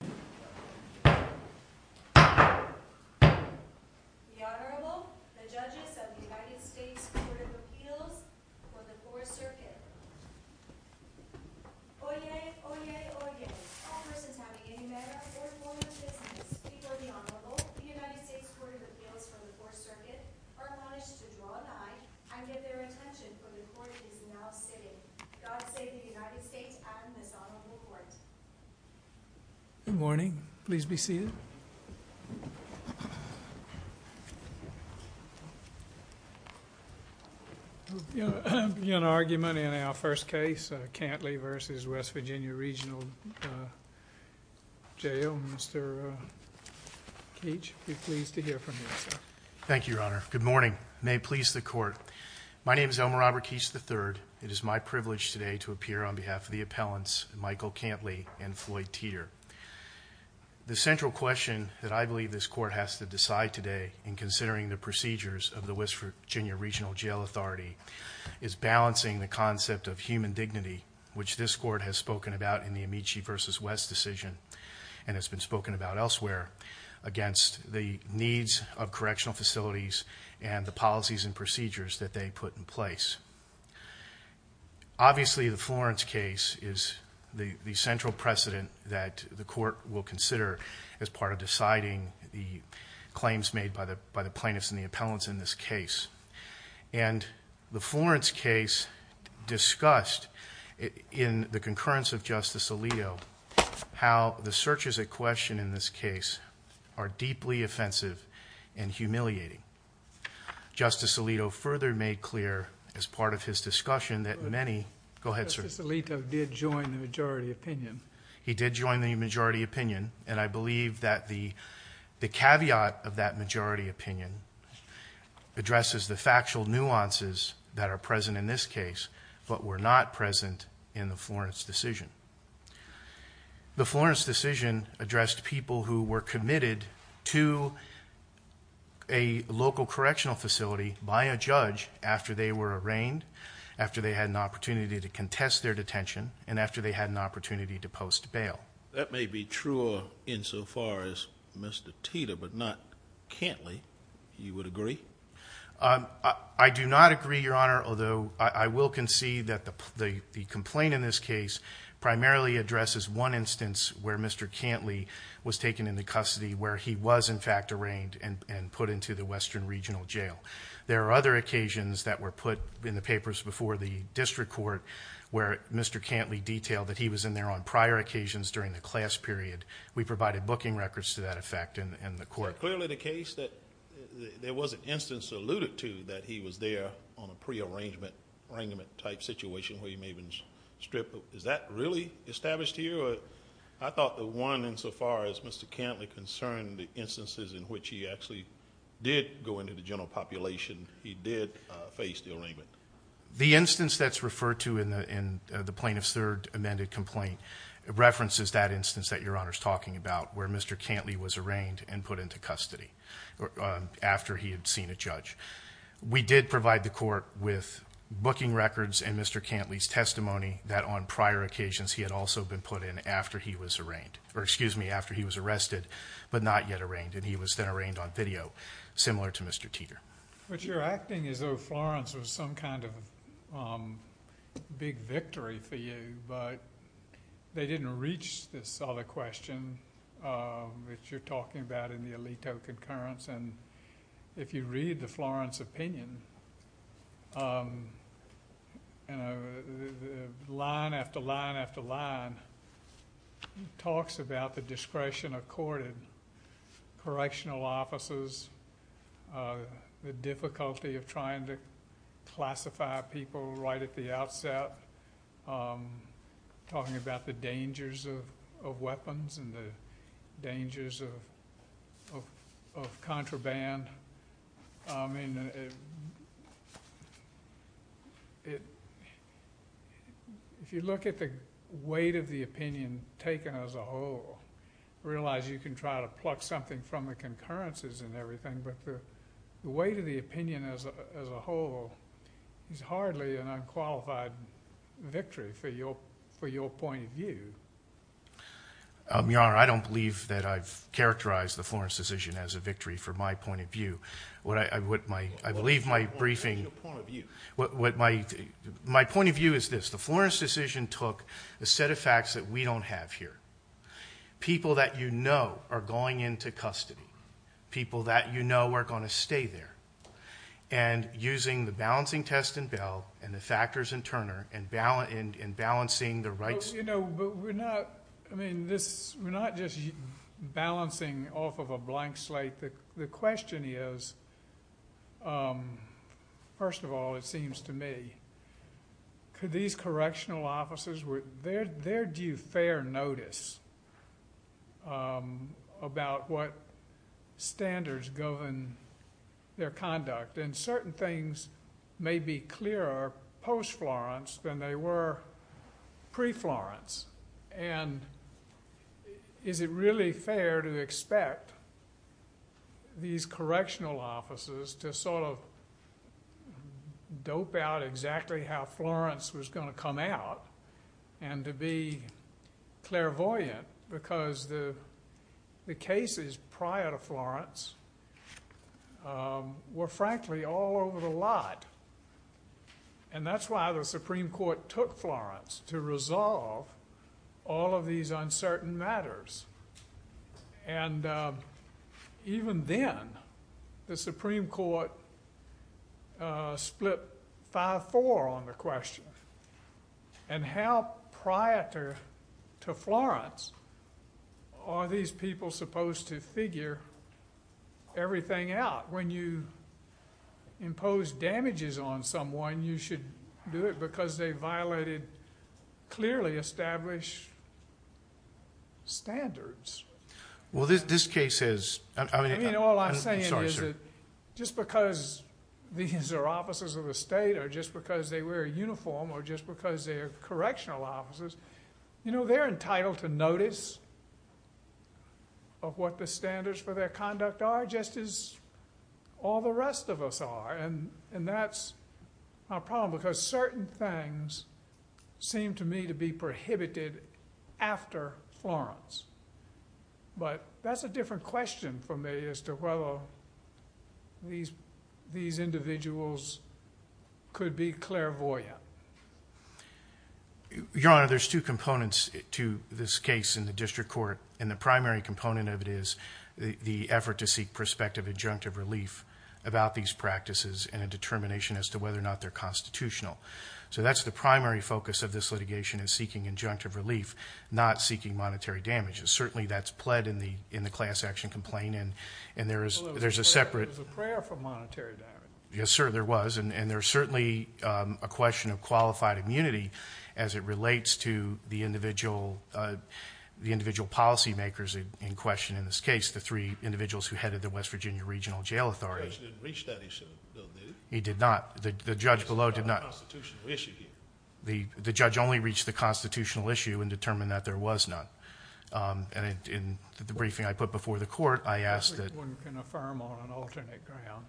The Honorable, the Judges of the United States Court of Appeals for the Fourth Circuit. Oyez! Oyez! Oyez! All persons having any matter or form of business before the Honorable, the United States Court of Appeals for the Fourth Circuit, are punished to draw an eye and give their attention where the Court is now sitting. God save the United States and this Honorable Court. Good morning. Please be seated. We'll begin our argument in our first case, Cantley v. West Virginia Regional Jail. Mr. Keach, be pleased to hear from you, sir. Thank you, Your Honor. Good morning. May it please the Court. My name is Elmer Robert Keach III. It is my privilege today to appear on behalf of the appellants, Michael Cantley and Floyd Teeter. The central question that I believe this Court has to decide today in considering the procedures of the West Virginia Regional Jail Authority is balancing the concept of human dignity, which this Court has spoken about in the Amici v. West decision and has been spoken about elsewhere, against the needs of correctional facilities and the policies and procedures that they put in place. Obviously, the Florence case is the central precedent that the Court will consider as part of deciding the claims made by the plaintiffs and the appellants in this case. And the Florence case discussed in the concurrence of Justice Alito how the searches at question in this case are deeply offensive and humiliating. Justice Alito further made clear as part of his discussion that many... Go ahead, sir. Justice Alito did join the majority opinion. He did join the majority opinion, and I believe that the caveat of that majority opinion addresses the factual nuances that are present in this case but were not present in the Florence decision. The Florence decision addressed people who were committed to a local correctional facility by a judge after they were arraigned, after they had an opportunity to contest their detention, and after they had an opportunity to post bail. That may be truer insofar as Mr. Teeter, but not Cantley. You would agree? I do not agree, Your Honor, although I will concede that the complaint in this case primarily addresses one instance where Mr. Cantley was taken into custody where he was, in fact, arraigned and put into the Western Regional Jail. There are other occasions that were put in the papers before the District Court where Mr. Cantley detailed that he was in there on prior occasions during the class period. We provided booking records to that effect in the Court. Is it clearly the case that there was an instance alluded to that he was there on a pre-arrangement type situation where he may have been stripped? Is that really established here? I thought the one insofar as Mr. Cantley concerned the instances in which he actually did go into the general population, he did face the arraignment. The instance that's referred to in the plaintiff's third amended complaint references that instance that Your Honor is talking about where Mr. Cantley was arraigned and put into custody after he had seen a judge. We did provide the Court with booking records and Mr. Cantley's testimony that on prior occasions he had also been put in after he was arraigned, or excuse me, after he was arrested, but not yet arraigned, and he was then arraigned on video, similar to Mr. Teeter. But you're acting as though Florence was some kind of big victory for you, but they didn't reach this other question that you're talking about in the Alito concurrence. If you read the Florence opinion, line after line after line, it talks about the discretion accorded, correctional offices, the difficulty of trying to classify people right at the outset, talking about the dangers of weapons and the dangers of contraband. I mean, if you look at the weight of the opinion taken as a whole, realize you can try to pluck something from the concurrences and everything, but the weight of the opinion as a whole is hardly an unqualified victory for your point of view. Your Honor, I don't believe that I've characterized the Florence decision as a victory from my point of view. I believe my briefing... What is your point of view? My point of view is this. The Florence decision took a set of facts that we don't have here. People that you know are going into custody, people that you know are going to stay there, and using the balancing test in Bell and the factors in Turner and balancing the rights... You know, but we're not... I mean, we're not just balancing off of a blank slate. The question is, first of all, it seems to me, could these correctional offices... Where do you fare notice about what standards go in their conduct? And certain things may be clearer post-Florence than they were pre-Florence. And is it really fair to expect these correctional offices to sort of dope out exactly how Florence was going to come out and to be clairvoyant? Because the cases prior to Florence were, frankly, all over the lot. And that's why the Supreme Court took Florence to resolve all of these uncertain matters. And even then, the Supreme Court split 5-4 on the question. And how prior to Florence are these people supposed to figure everything out? When you impose damages on someone, you should do it because they violated clearly established standards. Well, this case is... I'm sorry, sir. I mean, all I'm saying is that just because these are officers of the state or just because they wear a uniform or just because they're correctional officers, you know, they're entitled to notice of what the standards for their conduct are, just as all the rest of us are. And that's a problem because certain things seem to me to be prohibited after Florence. But that's a different question for me as to whether these individuals could be clairvoyant. Your Honor, there's two components to this case in the district court. And the primary component of it is the effort to seek prospective injunctive relief about these practices and a determination as to whether or not they're constitutional. So that's the primary focus of this litigation is seeking injunctive relief, not seeking monetary damages. Certainly, that's pled in the class action complaint. And there's a separate... It was a prayer for monetary damages. Yes, sir, there was. And there's certainly a question of qualified immunity as it relates to the individual policymakers in question in this case, the three individuals who headed the West Virginia Regional Jail Authority. The judge didn't reach that, he said, though, did he? He did not. The judge below did not. It's a constitutional issue here. The judge only reached the constitutional issue and determined that there was none. And in the briefing I put before the court, I asked that... Everyone can affirm on an alternate ground.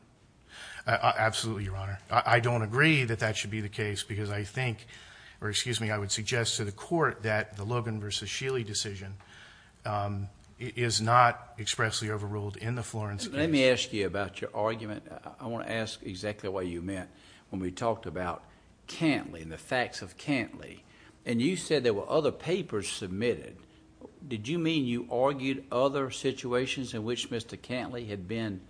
Absolutely, Your Honor. I don't agree that that should be the case because I think, or excuse me, I would suggest to the court that the Logan v. Scheele decision is not expressly overruled in the Florence case. Let me ask you about your argument. I want to ask exactly what you meant when we talked about Cantlie and the facts of Cantlie. And you said there were other papers submitted. Did you mean you argued other situations in which Mr. Cantlie had been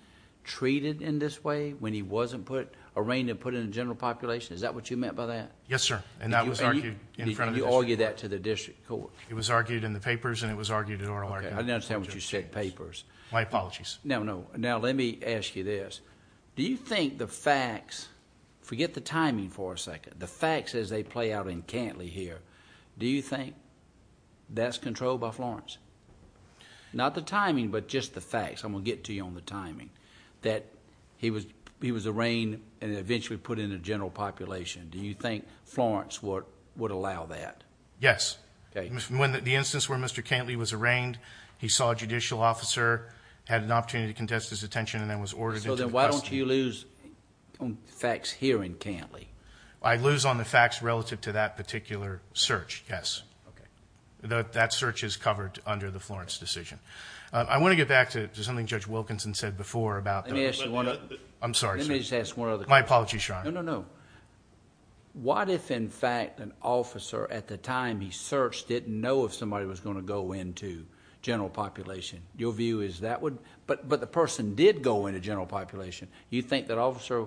treated in this way when he wasn't put, arraigned and put in a general population? Is that what you meant by that? Yes, sir. And that was argued in front of the district court. And you argued that to the district court? It was argued in the papers and it was argued at oral arguments. I don't understand what you said, papers. My apologies. No, no. Now, let me ask you this. Do you think the facts, forget the timing for a second, the facts as they play out in Cantlie here, do you think that's controlled by Florence? Not the timing, but just the facts. I'm going to get to you on the timing, that he was arraigned and eventually put in a general population. Do you think Florence would allow that? Yes. Okay. The instance where Mr. Cantlie was arraigned, he saw a judicial officer, had an opportunity to contest his detention, and then was ordered into custody. So then why don't you lose on facts here in Cantlie? I lose on the facts relative to that particular search, yes. Okay. That search is covered under the Florence decision. I want to get back to something Judge Wilkinson said before about the— Let me ask you one other— I'm sorry, sir. Let me just ask one other question. My apologies, Your Honor. No, no, no. What if, in fact, an officer at the time he searched didn't know if somebody was going to go into general population? Your view is that would—but the person did go into general population. You think that officer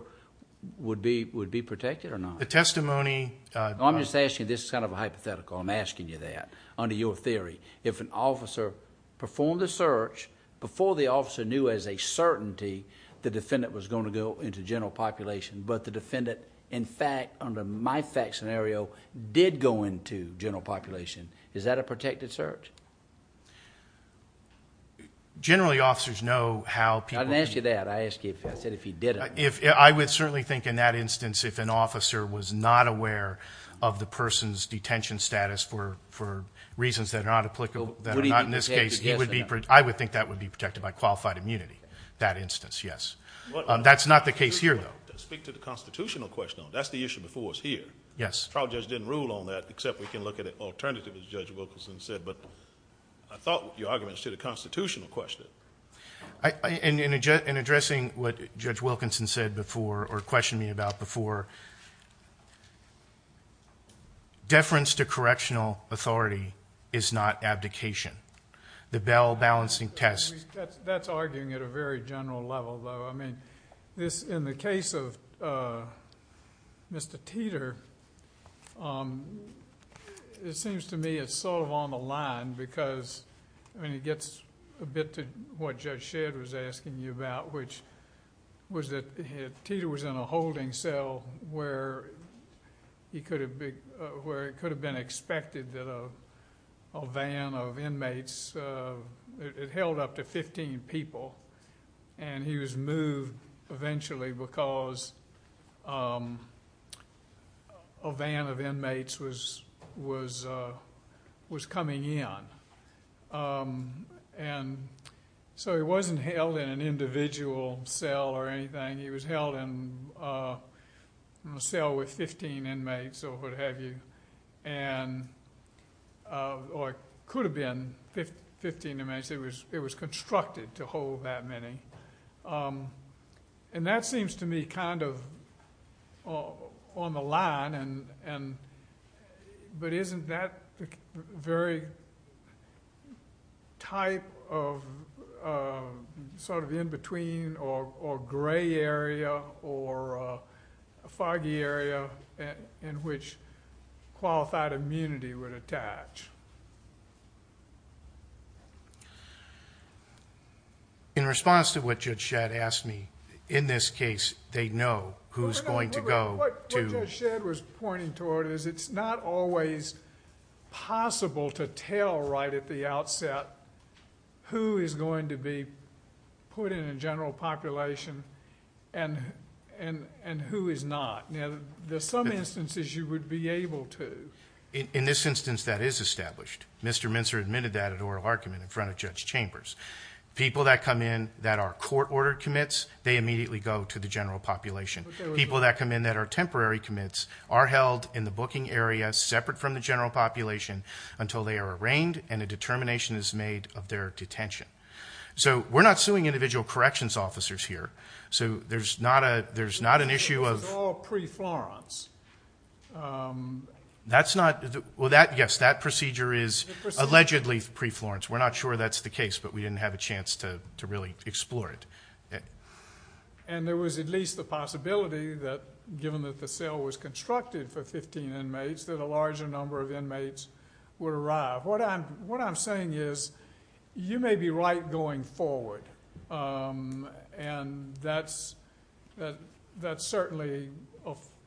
would be protected or not? The testimony— I'm just asking you—this is kind of a hypothetical. I'm asking you that under your theory. If an officer performed the search before the officer knew as a certainty the defendant was going to go into general population, but the defendant, in fact, under my fact scenario, did go into general population, is that a protected search? Generally, officers know how people— I didn't ask you that. I asked you—I said if he didn't. I would certainly think in that instance if an officer was not aware of the person's detention status for reasons that are not applicable, that are not in this case, he would be—I would think that would be protected by qualified immunity, that instance, yes. That's not the case here, though. Speak to the constitutional question. That's the issue before us here. Yes. The trial judge didn't rule on that, except we can look at an alternative, as Judge Wilkinson said. But I thought your argument was to the constitutional question. In addressing what Judge Wilkinson said before or questioned me about before, deference to correctional authority is not abdication. The bell-balancing test— That's arguing at a very general level, though. In the case of Mr. Teeter, it seems to me it's sort of on the line because it gets a bit to what Judge Shedd was asking you about, which was that Teeter was in a holding cell where it could have been expected that a van of inmates— it held up to 15 people, and he was moved eventually because a van of inmates was coming in. And so he wasn't held in an individual cell or anything. He was held in a cell with 15 inmates or what have you, or it could have been 15 inmates. It was constructed to hold that many. And that seems to me kind of on the line, but isn't that the very type of sort of in-between or gray area or foggy area in which qualified immunity would attach? In response to what Judge Shedd asked me, in this case, they know who's going to go to— What you're pointing toward is it's not always possible to tell right at the outset who is going to be put in a general population and who is not. Now, there's some instances you would be able to. In this instance, that is established. Mr. Mincer admitted that at oral argument in front of Judge Chambers. People that come in that are court-ordered commits, they immediately go to the general population. People that come in that are temporary commits are held in the booking area separate from the general population until they are arraigned and a determination is made of their detention. So we're not suing individual corrections officers here. So there's not an issue of— This is all pre-Florence. That's not—well, yes, that procedure is allegedly pre-Florence. We're not sure that's the case, but we didn't have a chance to really explore it. And there was at least the possibility that given that the cell was constructed for 15 inmates that a larger number of inmates would arrive. What I'm saying is you may be right going forward, and that's certainly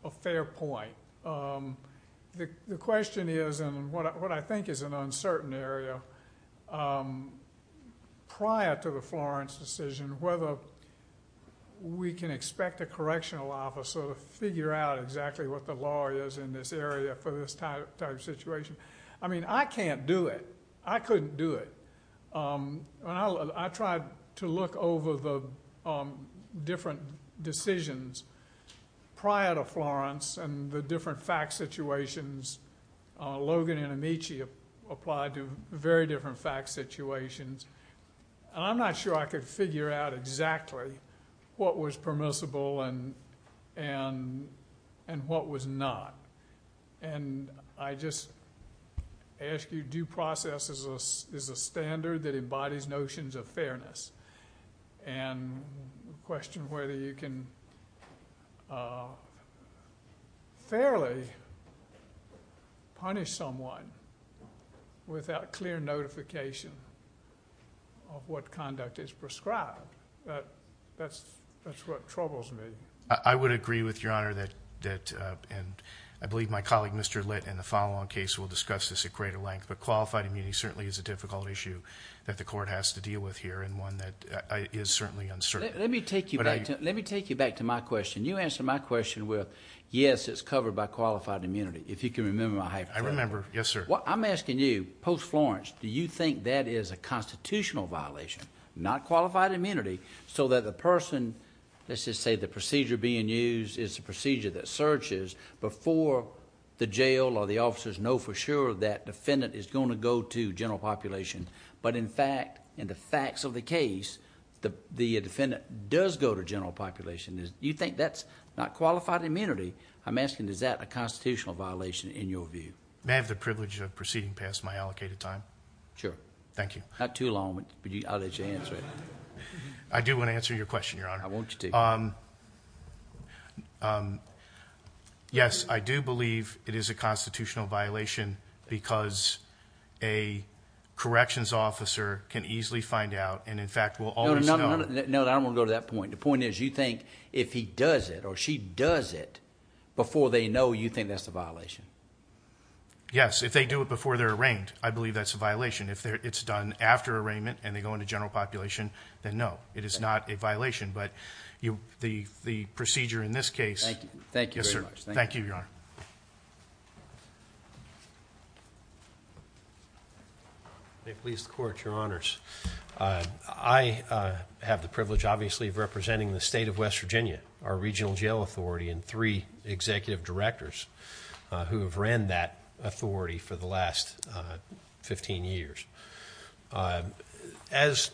a fair point. The question is, and what I think is an uncertain area, prior to the Florence decision, whether we can expect a correctional officer to figure out exactly what the law is in this area for this type of situation. I mean, I can't do it. I couldn't do it. I tried to look over the different decisions prior to Florence and the different fact situations. Logan and Amici applied to very different fact situations. And I'm not sure I could figure out exactly what was permissible and what was not. And I just ask you, due process is a standard that embodies notions of fairness. And the question whether you can fairly punish someone without clear notification of what conduct is prescribed, that's what troubles me. I would agree with Your Honor that, and I believe my colleague Mr. Litt in the follow-on case will discuss this at greater length, but qualified immunity certainly is a difficult issue that the court has to deal with here and one that is certainly uncertain. Let me take you back to my question. You answered my question with, yes, it's covered by qualified immunity. If you can remember my hypothesis. I remember. Yes, sir. I'm asking you, post-Florence, do you think that is a constitutional violation, not qualified immunity, so that the person, let's just say the procedure being used is a procedure that searches before the jail or the officers know for sure that defendant is going to go to general population, but in fact, in the facts of the case, the defendant does go to general population. Do you think that's not qualified immunity? I'm asking, is that a constitutional violation in your view? May I have the privilege of proceeding past my allocated time? Sure. Thank you. Not too long, but I'll let you answer it. I do want to answer your question, Your Honor. I want you to. Yes, I do believe it is a constitutional violation because a corrections officer can easily find out and in fact will always know. No, I don't want to go to that point. The point is you think if he does it or she does it before they know, you think that's a violation? Yes, if they do it before they're arraigned, I believe that's a violation. If it's done after arraignment and they go into general population, then no, it is not a violation. But the procedure in this case. Thank you. Yes, sir. Thank you, Your Honor. May it please the Court, Your Honors. I have the privilege, obviously, of representing the state of West Virginia, our regional jail authority, and three executive directors who have ran that authority for the last 15 years. As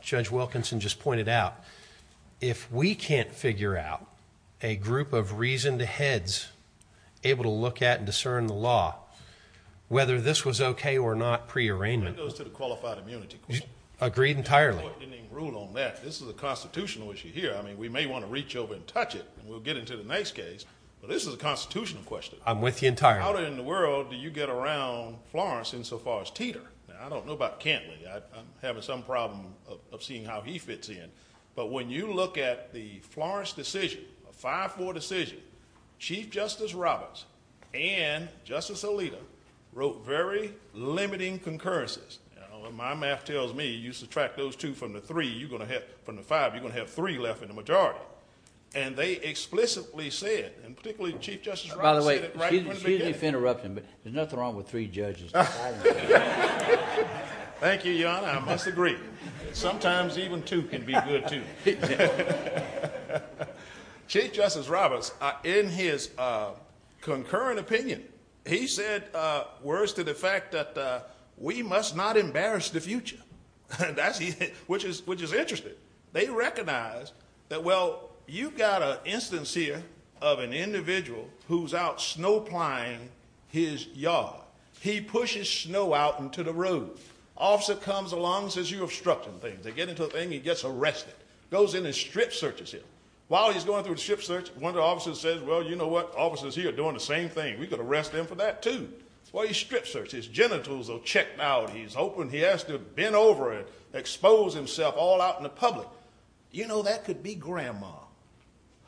Judge Wilkinson just pointed out, if we can't figure out a group of reasoned heads able to look at and discern the law, whether this was okay or not pre-arraignment. That goes to the qualified immunity question. Agreed entirely. The Court didn't even rule on that. This is a constitutional issue here. I mean, we may want to reach over and touch it and we'll get into the next case, but this is a constitutional question. I'm with you entirely. How in the world do you get around Florence insofar as Teeter? I don't know about Cantley. I'm having some problem of seeing how he fits in. But when you look at the Florence decision, a 5-4 decision, Chief Justice Roberts and Justice Alito wrote very limiting concurrences. My math tells me you subtract those two from the five, you're going to have three left in the majority. And they explicitly said, and particularly Chief Justice Roberts said it right from the beginning. By the way, excuse me for interrupting, but there's nothing wrong with three judges. Thank you, Your Honor. I must agree. Sometimes even two can be good, too. Chief Justice Roberts, in his concurrent opinion, he said words to the fact that we must not embarrass the future, which is interesting. They recognize that, well, you've got an instance here of an individual who's out snow-plying his yard. He pushes snow out into the road. Officer comes along and says, you're obstructing things. They get into a thing. He gets arrested. Goes in and strip searches him. While he's going through the strip search, one of the officers says, well, you know what? Officers here are doing the same thing. We could arrest them for that, too. Well, he strip searches. His genitals are checked out. He's open. He has to bend over and expose himself all out in the public. You know, that could be Grandma,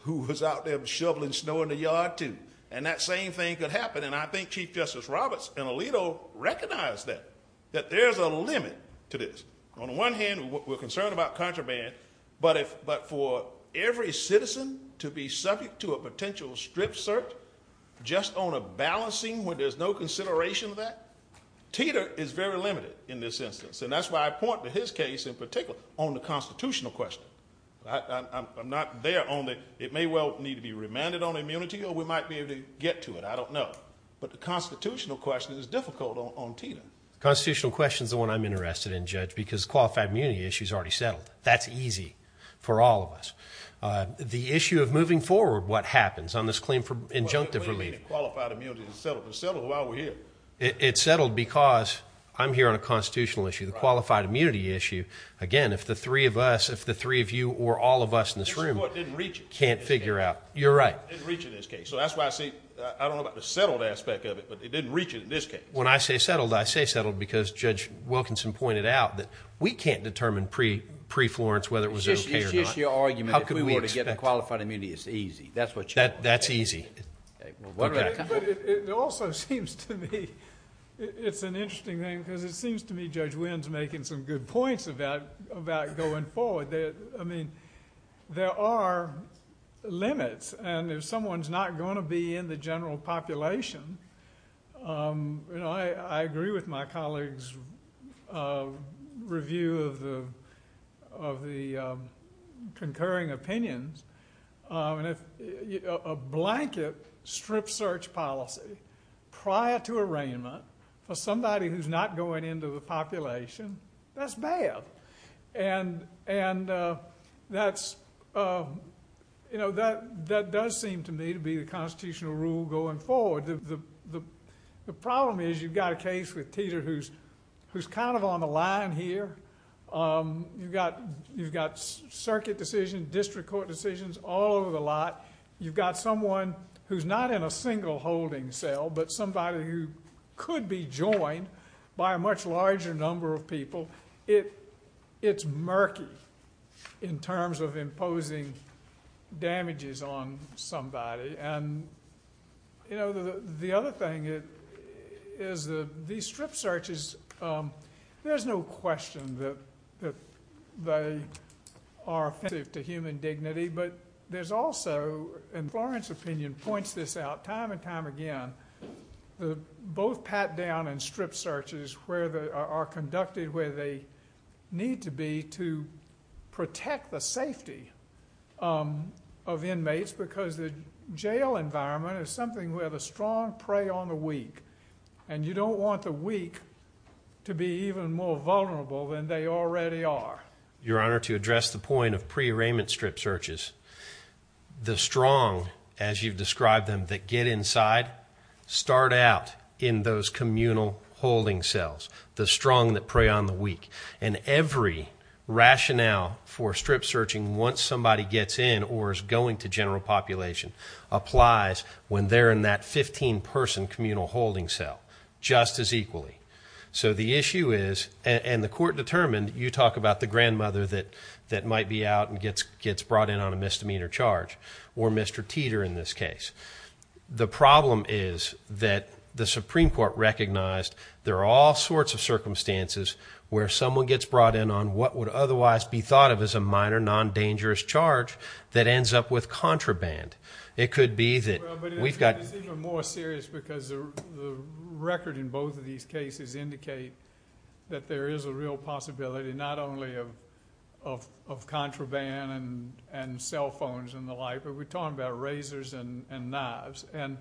who was out there shoveling snow in the yard, too. And that same thing could happen. And I think Chief Justice Roberts and Alito recognize that, that there's a limit to this. On the one hand, we're concerned about contraband, but for every citizen to be subject to a potential strip search just on a balancing, when there's no consideration of that, Titor is very limited in this instance. And that's why I point to his case in particular on the constitutional question. I'm not there on the it may well need to be remanded on immunity or we might be able to get to it. I don't know. But the constitutional question is difficult on Titor. The constitutional question is the one I'm interested in, Judge, because the qualified immunity issue is already settled. That's easy for all of us. The issue of moving forward, what happens on this claim for injunctive relief? Well, the claim for qualified immunity is settled. It's settled while we're here. It's settled because I'm here on a constitutional issue. The qualified immunity issue, again, if the three of us, if the three of you or all of us in this room can't figure out. You're right. Didn't reach in this case. So that's why I say I don't know about the settled aspect of it, but it didn't reach it in this case. When I say settled, I say settled because Judge Wilkinson pointed out that we can't determine pre-Florence whether it was okay or not. It's just your argument. If we were to get the qualified immunity, it's easy. That's what you're saying. That's easy. But it also seems to me it's an interesting thing because it seems to me Judge Winn's making some good points about going forward. There are limits, and if someone's not going to be in the general population, I agree with my colleague's review of the concurring opinions. A blanket strip search policy prior to arraignment for somebody who's not going into the population, that's bad. And that does seem to me to be the constitutional rule going forward. The problem is you've got a case with Teeter who's kind of on the line here. You've got circuit decisions, district court decisions all over the lot. You've got someone who's not in a single holding cell but somebody who could be joined by a much larger number of people. It's murky in terms of imposing damages on somebody. And the other thing is these strip searches, there's no question that they are offensive to human dignity, but there's also, and Florence's opinion points this out time and time again, both pat-down and strip searches are conducted where they need to be to protect the safety of inmates because the jail environment is something where the strong prey on the weak, and you don't want the weak to be even more vulnerable than they already are. Your Honor, to address the point of pre-arraignment strip searches, the strong, as you've described them, that get inside start out in those communal holding cells, the strong that prey on the weak. And every rationale for strip searching once somebody gets in or is going to general population applies when they're in that 15-person communal holding cell just as equally. So the issue is, and the court determined, you talk about the grandmother that might be out and gets brought in on a misdemeanor charge, or Mr. Teeter in this case. The problem is that the Supreme Court recognized there are all sorts of circumstances where someone gets brought in on what would otherwise be thought of as a minor non-dangerous charge that ends up with contraband. Well, but it's even more serious because the record in both of these cases indicate that there is a real possibility not only of contraband and cell phones and the like, but we're talking about razors and knives. And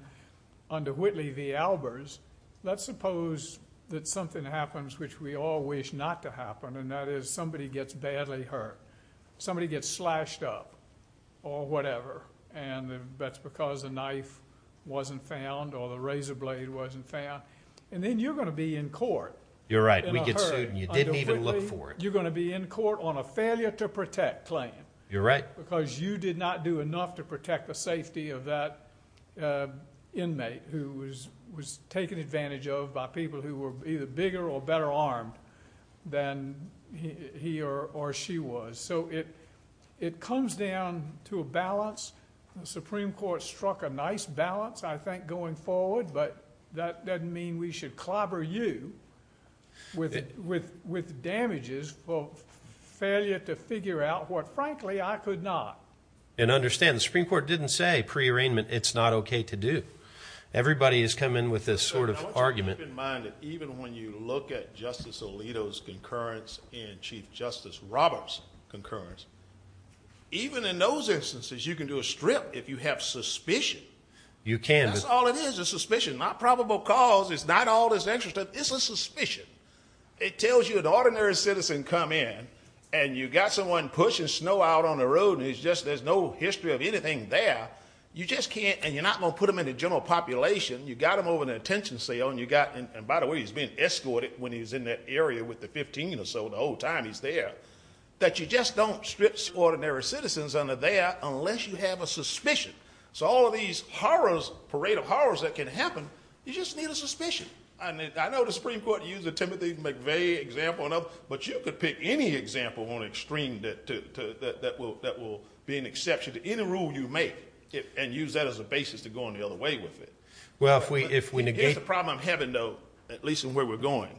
under Whitley v. Albers, let's suppose that something happens which we all wish not to happen, and that is somebody gets badly hurt. Somebody gets slashed up or whatever, and that's because the knife wasn't found or the razor blade wasn't found. And then you're going to be in court. You're right. We get sued and you didn't even look for it. You're going to be in court on a failure to protect claim. You're right. Because you did not do enough to protect the safety of that inmate who was taken advantage of by people who were either bigger or better armed than he or she was. So it comes down to a balance. The Supreme Court struck a nice balance, I think, going forward, but that doesn't mean we should clobber you with damages for failure to figure out what, frankly, I could not. And understand, the Supreme Court didn't say pre-arraignment, it's not okay to do. Everybody is coming with this sort of argument. I want you to keep in mind that even when you look at Justice Alito's concurrence and Chief Justice Roberts' concurrence, even in those instances you can do a strip if you have suspicion. You can. That's all it is, a suspicion. Not probable cause. It's not all this extra stuff. It's a suspicion. It tells you an ordinary citizen come in and you've got someone pushing snow out on the road and there's no history of anything there. You just can't, and you're not going to put them in the general population. You've got them over in an attention sale and you've got them, and by the way he's being escorted when he's in that area with the 15 or so the whole time he's there, that you just don't strip ordinary citizens under there unless you have a suspicion. So all of these horrors, parade of horrors that can happen, you just need a suspicion. I know the Supreme Court used the Timothy McVeigh example, but you could pick any example on extreme that will be an exception to any rule you make. And use that as a basis to go on the other way with it. Well, if we negate. Here's the problem I'm having, though, at least in where we're going.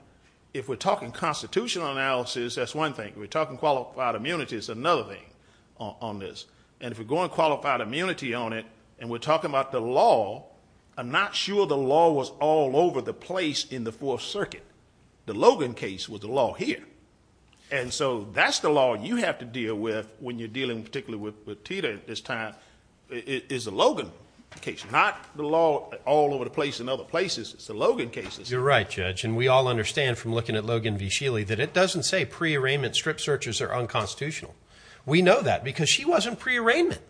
If we're talking constitutional analysis, that's one thing. If we're talking qualified immunity, it's another thing on this. And if we're going qualified immunity on it and we're talking about the law, I'm not sure the law was all over the place in the Fourth Circuit. The Logan case was the law here. And so that's the law you have to deal with when you're dealing particularly with Tita at this time. It is a Logan case, not the law all over the place in other places. It's the Logan cases. You're right, Judge, and we all understand from looking at Logan v. Shealy that it doesn't say pre-arraignment strip searches are unconstitutional. We know that because she wasn't pre-arraignment.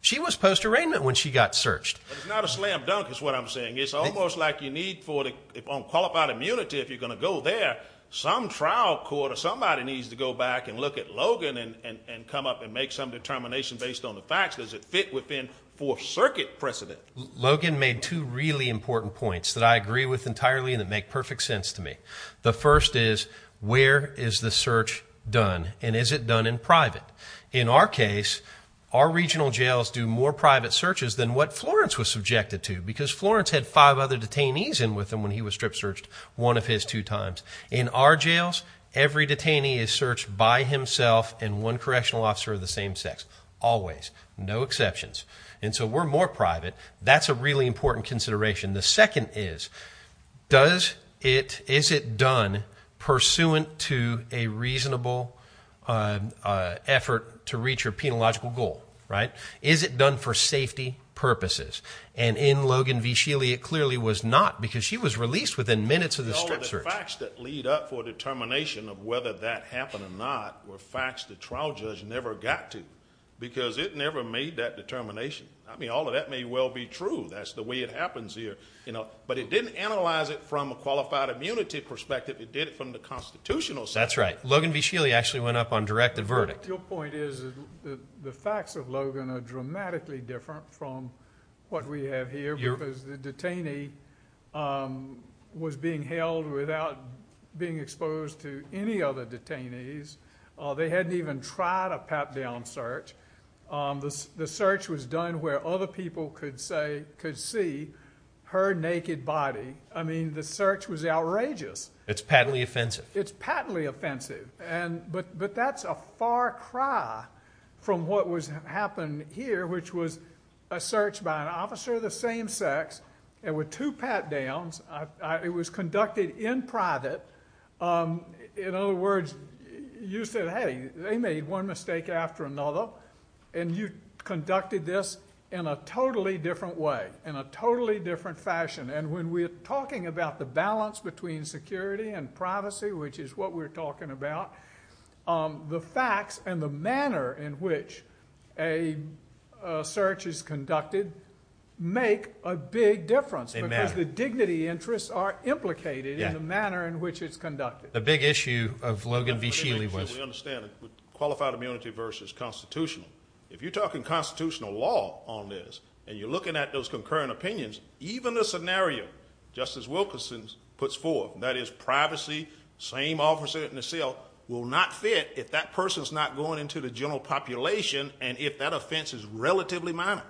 She was post-arraignment when she got searched. It's not a slam dunk is what I'm saying. It's almost like you need for the qualified immunity if you're going to go there, some trial court or somebody needs to go back and look at Logan and come up and make some determination based on the facts. Does it fit within Fourth Circuit precedent? Logan made two really important points that I agree with entirely and that make perfect sense to me. The first is where is the search done, and is it done in private? In our case, our regional jails do more private searches than what Florence was subjected to because Florence had five other detainees in with them when he was strip searched one of his two times. In our jails, every detainee is searched by himself and one correctional officer of the same sex always, no exceptions. And so we're more private. That's a really important consideration. The second is, is it done pursuant to a reasonable effort to reach your penological goal, right? And in Logan v. Scheele, it clearly was not because she was released within minutes of the strip search. All of the facts that lead up for determination of whether that happened or not were facts the trial judge never got to because it never made that determination. I mean, all of that may well be true. That's the way it happens here. But it didn't analyze it from a qualified immunity perspective. It did it from the constitutional side. That's right. Logan v. Scheele actually went up on directed verdict. But your point is that the facts of Logan are dramatically different from what we have here because the detainee was being held without being exposed to any other detainees. They hadn't even tried a pat-down search. The search was done where other people could see her naked body. I mean, the search was outrageous. It's patently offensive. It's patently offensive. But that's a far cry from what happened here, which was a search by an officer of the same sex. There were two pat-downs. It was conducted in private. In other words, you said, hey, they made one mistake after another, and you conducted this in a totally different way, in a totally different fashion. And when we're talking about the balance between security and privacy, which is what we're talking about, the facts and the manner in which a search is conducted make a big difference. They matter. Because the dignity interests are implicated in the manner in which it's conducted. The big issue of Logan v. Scheele was. We understand it. Qualified immunity versus constitutional. If you're talking constitutional law on this and you're looking at those concurrent opinions, even a scenario, just as Wilkerson puts forth, that is privacy, same officer in the cell, will not fit if that person's not going into the general population and if that offense is relatively minor.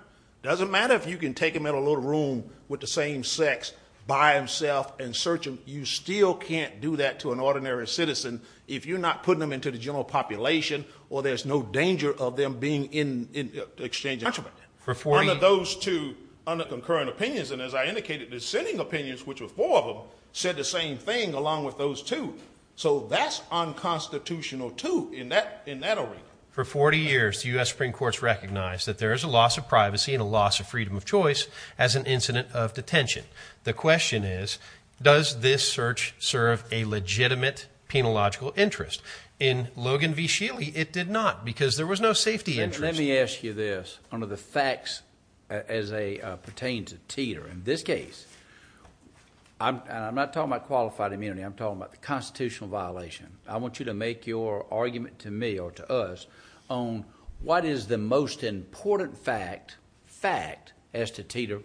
It doesn't matter if you can take them in a little room with the same sex by themselves and search them. You still can't do that to an ordinary citizen if you're not putting them into the general population or there's no danger of them being in exchange. Under those two concurrent opinions, and as I indicated, the sitting opinions, which were four of them, said the same thing along with those two. So that's unconstitutional, too, in that arena. For 40 years, the U.S. Supreme Court has recognized that there is a loss of privacy and a loss of freedom of choice as an incident of detention. The question is, does this search serve a legitimate penological interest? In Logan v. Scheele, it did not because there was no safety interest. Let me ask you this on the facts as they pertain to Teeter. In this case, I'm not talking about qualified immunity. I'm talking about the constitutional violation. I want you to make your argument to me or to us on what is the most important fact as to Teeter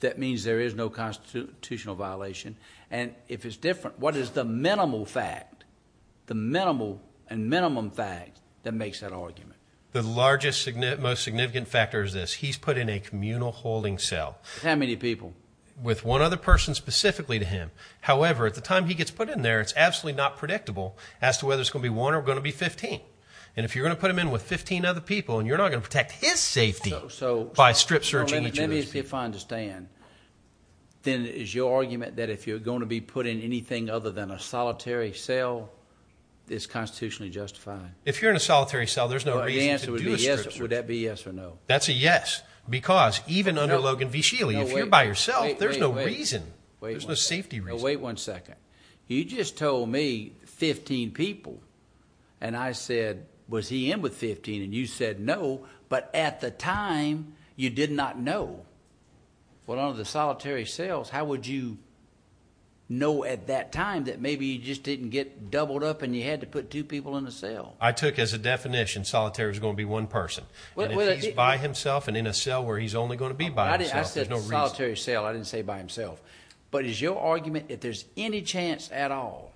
that means there is no constitutional violation, and if it's different, what is the minimal fact, the minimal and minimum fact that makes that argument? The largest, most significant factor is this. He's put in a communal holding cell. How many people? With one other person specifically to him. However, at the time he gets put in there, it's absolutely not predictable as to whether it's going to be one or going to be 15. And if you're going to put him in with 15 other people, you're not going to protect his safety by strip searching each of those people. Let me see if I understand. Then is your argument that if you're going to be put in anything other than a solitary cell, it's constitutionally justified? If you're in a solitary cell, there's no reason to do a strip search. Would that be yes or no? That's a yes because even under Logan v. Sheely, if you're by yourself, there's no reason. There's no safety reason. Wait one second. You just told me 15 people, and I said, was he in with 15? And you said no, but at the time you did not know. Well, under the solitary cells, how would you know at that time that maybe you just didn't get doubled up and you had to put two people in a cell? I took as a definition solitary was going to be one person. If he's by himself and in a cell where he's only going to be by himself, there's no reason. I said solitary cell. I didn't say by himself. But is your argument if there's any chance at all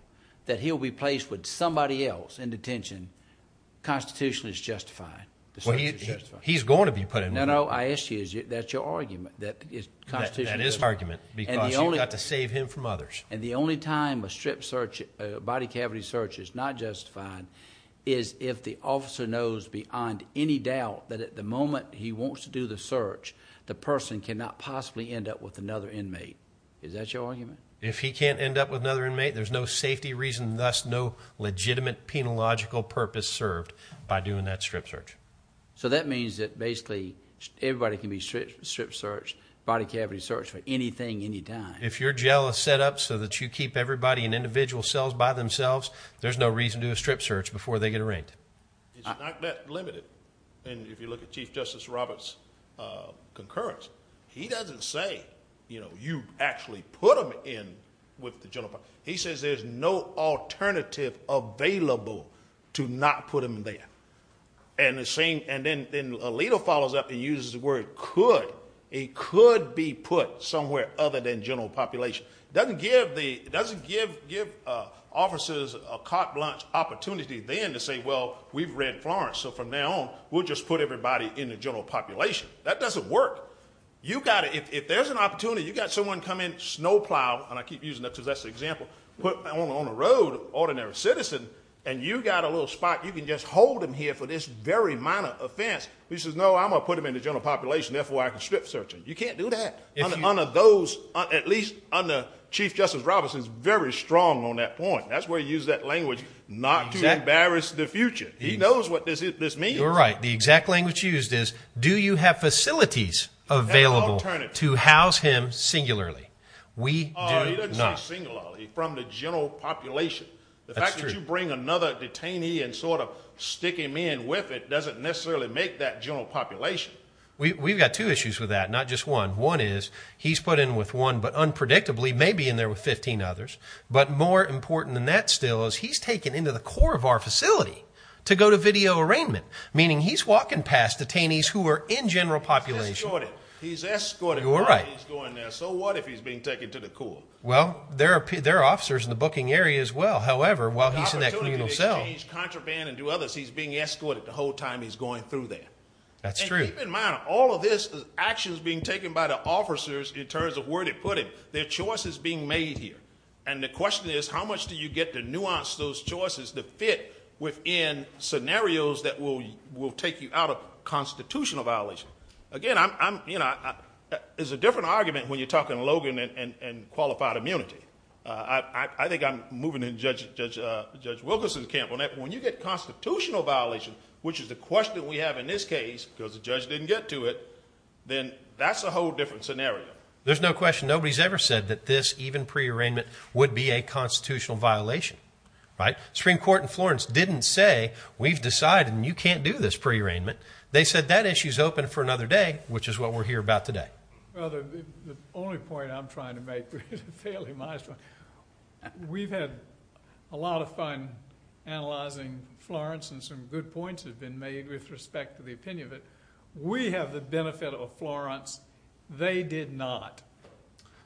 that he'll be placed with somebody else in detention, constitutionally it's justified? Well, he's going to be put in one. No, no. I asked you if that's your argument, that it's constitutionally justified. That is argument because you've got to save him from others. And the only time a strip search, a body cavity search is not justified is if the officer knows beyond any doubt that at the moment he wants to do the search, the person cannot possibly end up with another inmate. Is that your argument? If he can't end up with another inmate, there's no safety reason, thus no legitimate penological purpose served by doing that strip search. So that means that basically everybody can be strip searched, body cavity searched for anything, anytime. If you're jealous set up so that you keep everybody in individual cells by themselves, there's no reason to do a strip search before they get arraigned. It's not that limited. And if you look at Chief Justice Roberts' concurrence, he doesn't say, you know, you actually put him in with the general public. He says there's no alternative available to not put him there. And then Alito follows up and uses the word could. He could be put somewhere other than general population. It doesn't give officers a carte blanche opportunity then to say, well, we've read Florence, so from now on we'll just put everybody in the general population. That doesn't work. If there's an opportunity, you've got someone come in, snow plow, and I keep using that because that's the example, put on the road, ordinary citizen, and you've got a little spot you can just hold them here for this very minor offense. He says, no, I'm going to put them in the general population. Therefore, I can strip search them. You can't do that. At least under Chief Justice Roberts, he's very strong on that point. That's why he used that language, not to embarrass the future. He knows what this means. You're right. The exact language used is, do you have facilities available to house him singularly? We do not. He doesn't say singularly. From the general population. The fact that you bring another detainee and sort of stick him in with it doesn't necessarily make that general population. We've got two issues with that, not just one. One is he's put in with one, but unpredictably may be in there with 15 others. But more important than that still is he's taken into the core of our facility to go to video arraignment, meaning he's walking past detainees who are in general population. He's escorted. You're right. So what if he's being taken to the core? Well, there are officers in the booking area as well. However, while he's in that communal cell. He's being escorted the whole time he's going through there. That's true. Keep in mind, all of this action is being taken by the officers in terms of where they put him. Their choice is being made here. And the question is, how much do you get to nuance those choices to fit within scenarios that will take you out of constitutional violation? Again, it's a different argument when you're talking Logan and qualified immunity. I think I'm moving in Judge Wilkerson's camp on that. When you get constitutional violation, which is the question we have in this case because the judge didn't get to it, then that's a whole different scenario. There's no question. Nobody's ever said that this even pre-arraignment would be a constitutional violation. Right? Supreme Court in Florence didn't say we've decided you can't do this pre-arraignment. They said that issue's open for another day, which is what we're here about today. Brother, the only point I'm trying to make is a fairly modest one. We've had a lot of fun analyzing Florence, and some good points have been made with respect to the opinion of it. We have the benefit of Florence. They did not.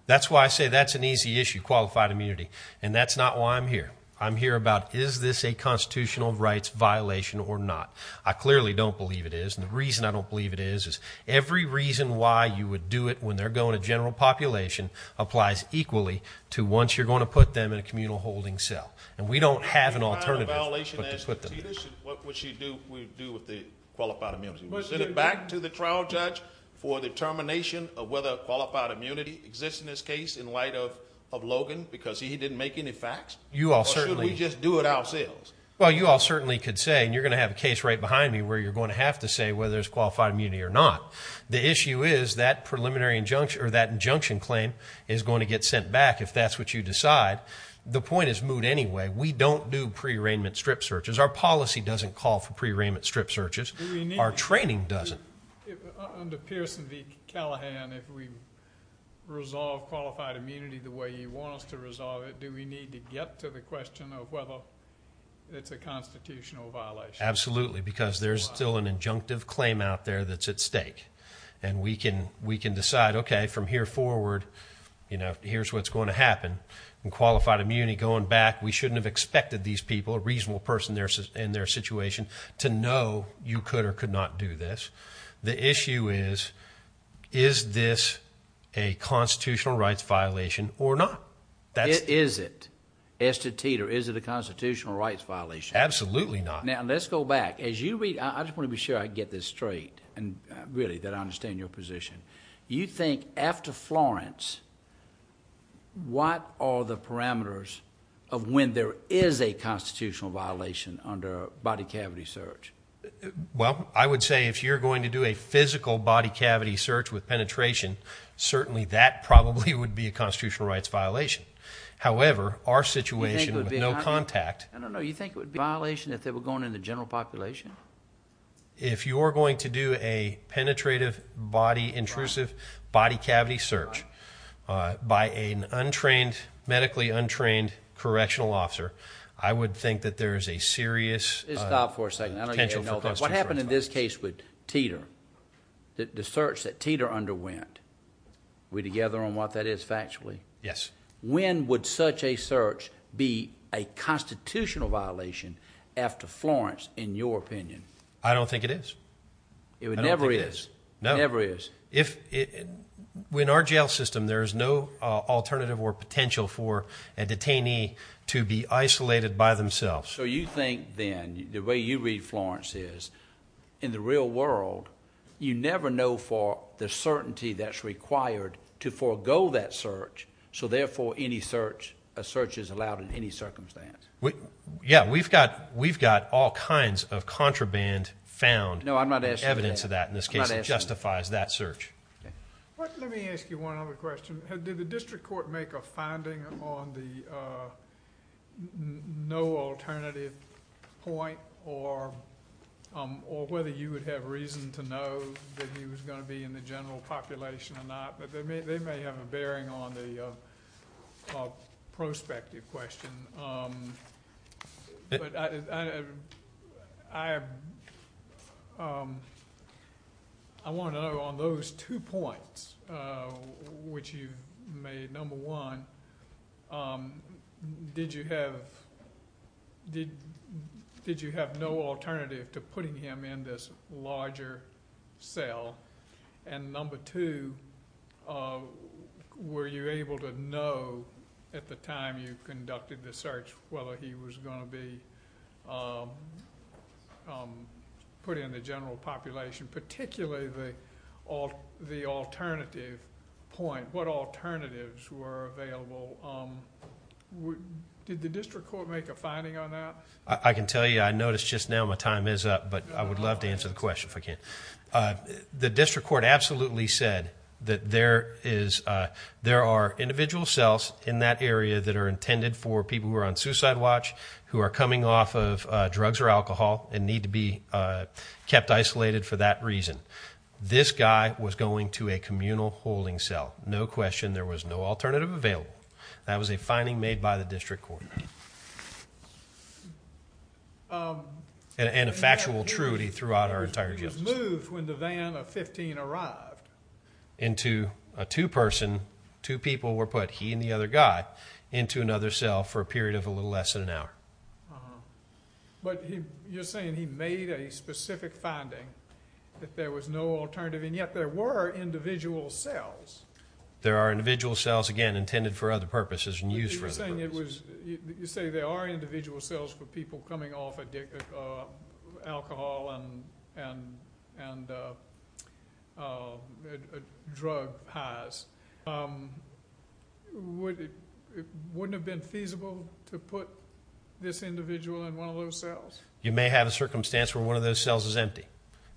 That's why I say that's an easy issue, qualified immunity, and that's not why I'm here. I'm here about is this a constitutional rights violation or not. I clearly don't believe it is, and the reason I don't believe it is is every reason why you would do it when they're going to general population applies equally to once you're going to put them in a communal holding cell. And we don't have an alternative but to put them there. What would you do with the qualified immunity? Would you send it back to the trial judge for determination of whether qualified immunity exists in this case in light of Logan because he didn't make any facts? Or should we just do it ourselves? Well, you all certainly could say, and you're going to have a case right behind me where you're going to have to say whether there's qualified immunity or not. The issue is that preliminary injunction or that injunction claim is going to get sent back if that's what you decide. The point is moot anyway. We don't do pre-arraignment strip searches. Our policy doesn't call for pre-arraignment strip searches. Our training doesn't. Under Pearson v. Callahan, if we resolve qualified immunity the way he wants to resolve it, do we need to get to the question of whether it's a constitutional violation? Absolutely, because there's still an injunctive claim out there that's at stake. And we can decide, okay, from here forward, here's what's going to happen. In qualified immunity, going back, we shouldn't have expected these people, a reasonable person in their situation, to know you could or could not do this. The issue is, is this a constitutional rights violation or not? Is it? Estatete or is it a constitutional rights violation? Absolutely not. Now, let's go back. I just want to be sure I get this straight, really, that I understand your position. You think after Florence, what are the parameters of when there is a constitutional violation under a body cavity search? Well, I would say if you're going to do a physical body cavity search with penetration, certainly that probably would be a constitutional rights violation. However, our situation with no contact. I don't know. You think it would be a violation if they were going in the general population? If you are going to do a penetrative body, intrusive body cavity search by an untrained, medically untrained correctional officer, I would think that there is a serious potential. Stop for a second. What happened in this case with Teeter, the search that Teeter underwent? Are we together on what that is factually? Yes. When would such a search be a constitutional violation after Florence, in your opinion? I don't think it is. I don't think it is. No. It never is. In our jail system, there is no alternative or potential for a detainee to be isolated by themselves. So you think then, the way you read Florence is, in the real world, you never know for the certainty that is required to forego that search. So therefore, a search is allowed in any circumstance. Yes. We have got all kinds of contraband found. No, I am not asking that. Evidence of that, in this case, justifies that search. Let me ask you one other question. Did the district court make a finding on the no alternative point or whether you would have reason to know that he was going to be in the general population or not? They may have a bearing on the prospective question. I want to know, on those two points, which you made, number one, did you have no alternative to putting him in this larger cell? Number two, were you able to know, at the time you conducted the search, whether he was going to be put in the general population, particularly the alternative point? What alternatives were available? Did the district court make a finding on that? I can tell you, I noticed just now, my time is up, but I would love to answer the question if I can. The district court absolutely said that there are individual cells in that area that are intended for people who are on suicide watch, who are coming off of drugs or alcohol and need to be kept isolated for that reason. This guy was going to a communal holding cell. No question, there was no alternative available. That was a finding made by the district court and a factual truity throughout our entire justice. He was moved when the van of 15 arrived. Into a two-person, two people were put, he and the other guy, into another cell for a period of a little less than an hour. But you're saying he made a specific finding, that there was no alternative, and yet there were individual cells. There are individual cells, again, intended for other purposes and used for other purposes. You say there are individual cells for people coming off of alcohol and drug highs. Wouldn't it have been feasible to put this individual in one of those cells? You may have a circumstance where one of those cells is empty.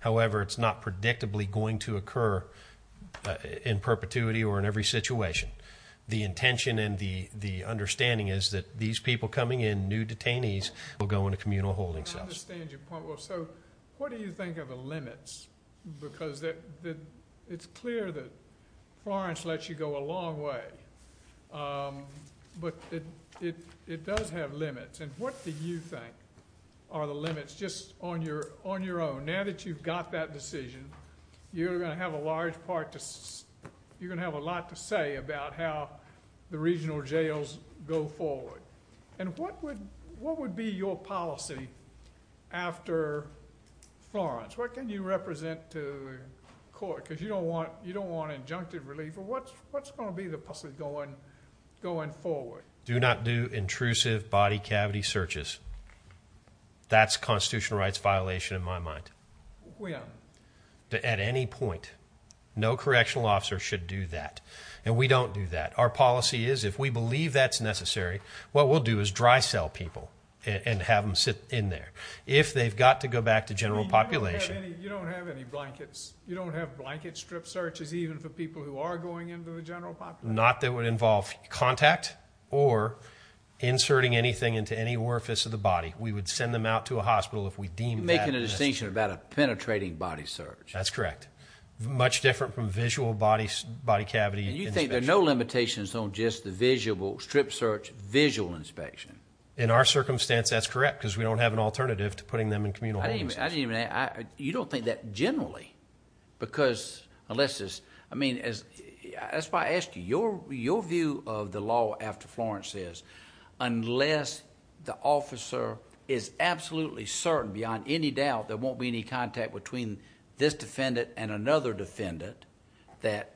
However, it's not predictably going to occur in perpetuity or in every situation. The intention and the understanding is that these people coming in, new detainees, will go into communal holding cells. I understand your point. What do you think are the limits? Because it's clear that Florence lets you go a long way, but it does have limits. What do you think are the limits, just on your own? Now that you've got that decision, you're going to have a lot to say about how the regional jails go forward. What would be your policy after Florence? What can you represent to court? Because you don't want injunctive relief. What's going to be the puzzle going forward? Do not do intrusive body cavity searches. That's a constitutional rights violation in my mind. At any point, no correctional officer should do that. And we don't do that. Our policy is, if we believe that's necessary, what we'll do is dry cell people and have them sit in there. If they've got to go back to general population... You don't have any blankets. You don't have blanket strip searches, even for people who are going into the general population? Not that it would involve contact or inserting anything into any orifice of the body. We would send them out to a hospital if we deemed that necessary. You're making a distinction about a penetrating body search. That's correct. Much different from visual body cavity inspection. And you think there are no limitations on just the strip search visual inspection? In our circumstance, that's correct, because we don't have an alternative to putting them in communal homes. You don't think that generally? That's why I asked you. Your view of the law after Florence is, unless the officer is absolutely certain, beyond any doubt, there won't be any contact between this defendant and another defendant, that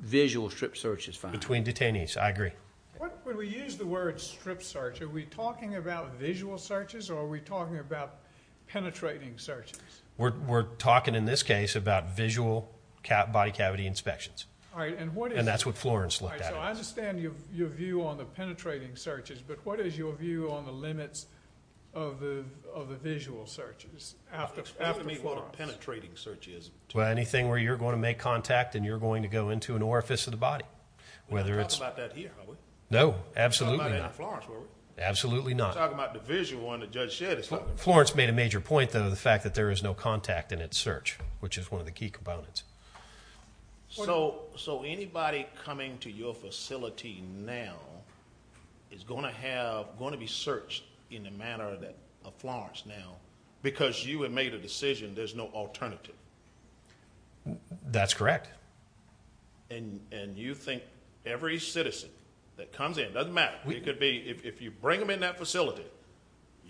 visual strip search is fine. Between detainees. I agree. When we use the word strip search, are we talking about visual searches or are we talking about penetrating searches? We're talking in this case about visual body cavity inspections. And that's what Florence looked at. I understand your view on the penetrating searches, but what is your view on the limits of the visual searches after Florence? What do you mean what a penetrating search is? Anything where you're going to make contact and you're going to go into an orifice of the body. We haven't talked about that here, have we? No, absolutely not. We haven't talked about that in Florence, have we? Absolutely not. You're talking about the visual one that Judge Shedd has talked about. Florence made a major point, though, the fact that there is no contact in its search, which is one of the key components. So anybody coming to your facility now is going to be searched in the manner of Florence now because you have made a decision there's no alternative. That's correct. And you think every citizen that comes in, it doesn't matter, it could be if you bring them in that facility,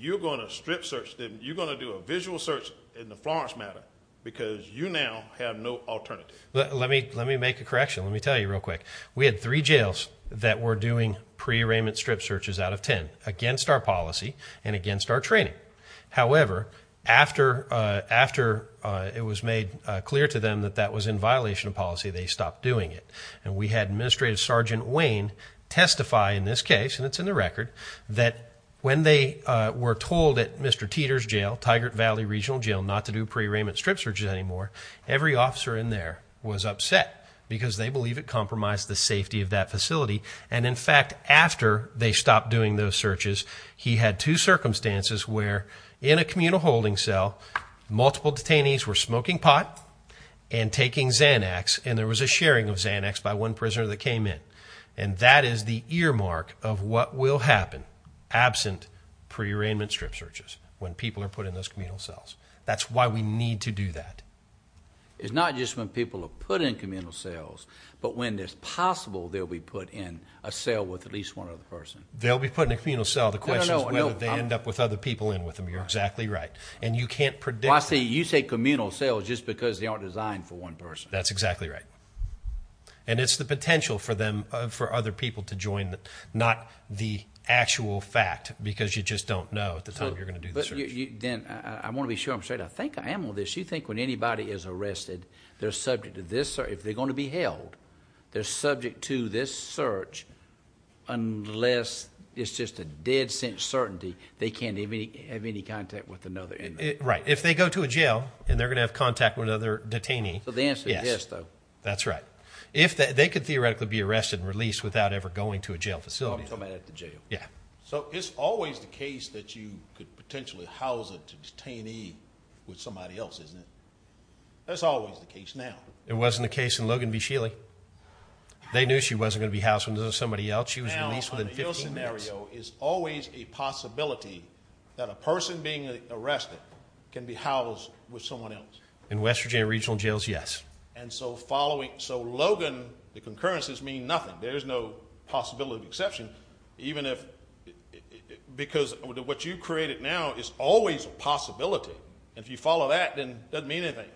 you're going to strip search them. You're going to do a visual search in the Florence manner because you now have no alternative. Let me make a correction. Let me tell you real quick. We had three jails that were doing pre-arraignment strip searches out of ten against our policy and against our training. However, after it was made clear to them that that was in violation of policy, they stopped doing it. And we had Administrative Sergeant Wayne testify in this case, and it's in the record, that when they were told at Mr. Teeter's jail, Tigert Valley Regional Jail, not to do pre-arraignment strip searches anymore, every officer in there was upset because they believe it compromised the safety of that facility. And, in fact, after they stopped doing those searches, he had two circumstances where, in a communal holding cell, multiple detainees were smoking pot and taking Xanax, and there was a sharing of Xanax by one prisoner that came in. And that is the earmark of what will happen, absent pre-arraignment strip searches, when people are put in those communal cells. That's why we need to do that. It's not just when people are put in communal cells, but when it's possible they'll be put in a cell with at least one other person. They'll be put in a communal cell. The question is whether they end up with other people in with them. You're exactly right. And you can't predict... I see. You say communal cells just because they aren't designed for one person. That's exactly right. And it's the potential for them, for other people to join, not the actual fact, because you just don't know at the time you're going to do the search. I want to be sure I'm straight. I think I am on this. You think when anybody is arrested, they're subject to this... If they're going to be held, they're subject to this search unless it's just a dead sense certainty they can't have any contact with another. Right. If they go to a jail and they're going to have contact with another detainee... So the answer is yes, though. Yes. That's right. They could theoretically be arrested and released without ever going to a jail facility. I'm talking about at the jail. Yeah. So it's always the case that you could potentially house a detainee with somebody else, isn't it? That's always the case now. It wasn't the case in Logan v. Shealy. They knew she wasn't going to be housed with somebody else. She was released within 15 minutes. Now, under your scenario, is always a possibility that a person being arrested can be housed with someone else? In West Virginia Regional Jails, yes. And so following... So Logan, the concurrences mean nothing. There's no possibility of exception, even if... Because what you created now is always a possibility. And if you follow that, then it doesn't mean anything.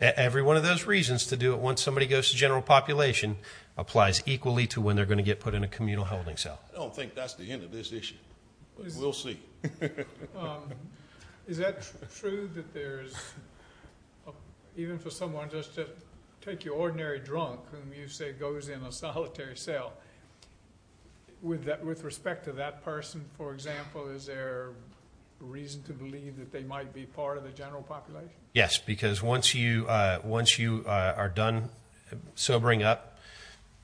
Every one of those reasons to do it once somebody goes to general population applies equally to when they're going to get put in a communal holding cell. I don't think that's the end of this issue, but we'll see. Is that true that there's... Even for someone just to take your ordinary drunk, whom you say goes in a solitary cell, with respect to that person, for example, is there a reason to believe that they might be part of the general population? Yes, because once you are done sobering up,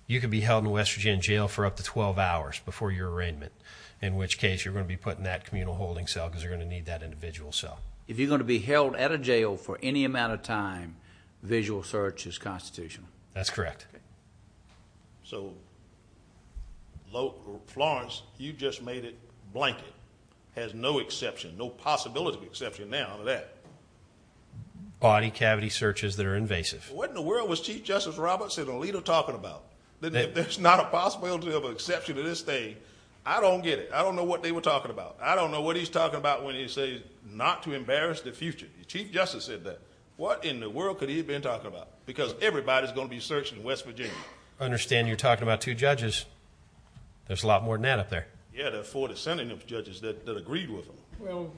you could be held in a West Virginia jail for up to 12 hours before your arraignment, in which case you're going to be put in that communal holding cell because you're going to need that individual cell. If you're going to be held at a jail for any amount of time, visual search is constitutional. That's correct. So Florence, you just made it blanket. Has no exception, no possibility of exception now to that. Body cavity searches that are invasive. What in the world was Chief Justice Robertson and Alito talking about? That there's not a possibility of exception to this thing. I don't get it. I don't know what they were talking about. I don't know what he's talking about when he says not to embarrass the future. Chief Justice said that. What in the world could he have been talking about? Because everybody's going to be searching in West Virginia. I understand you're talking about two judges. There's a lot more than that up there. Yeah, there are four dissenting judges that agreed with him. Well,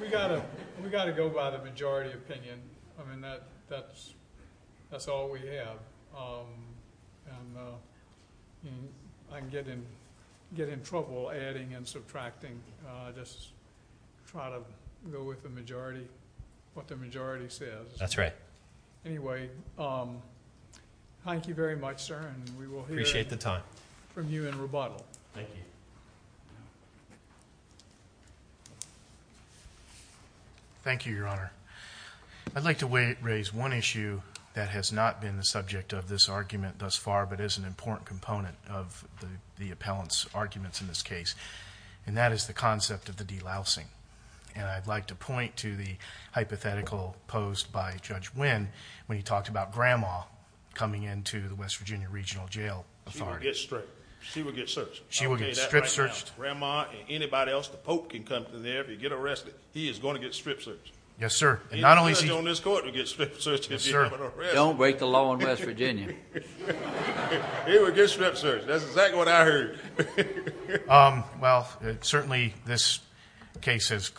we've got to go by the majority opinion. I mean, that's all we have. And I can get in trouble adding and subtracting. Just try to go with the majority, what the majority says. That's right. Anyway, thank you very much, sir, and we will hear from you in rebuttal. Thank you. Thank you, Your Honor. I'd like to raise one issue that has not been the subject of this argument thus far but is an important component of the appellant's arguments in this case, and that is the concept of the delousing. And I'd like to point to the hypothetical posed by Judge Wynn when he talked about Grandma coming into the West Virginia Regional Jail Authority. She will get stripped. She will get searched. She will get strip-searched. Grandma and anybody else, the Pope can come in there. If you get arrested, he is going to get strip-searched. Yes, sir. And not only is he going to get strip-searched. Don't break the law in West Virginia. He will get strip-searched. That's exactly what I heard. Well, certainly this case has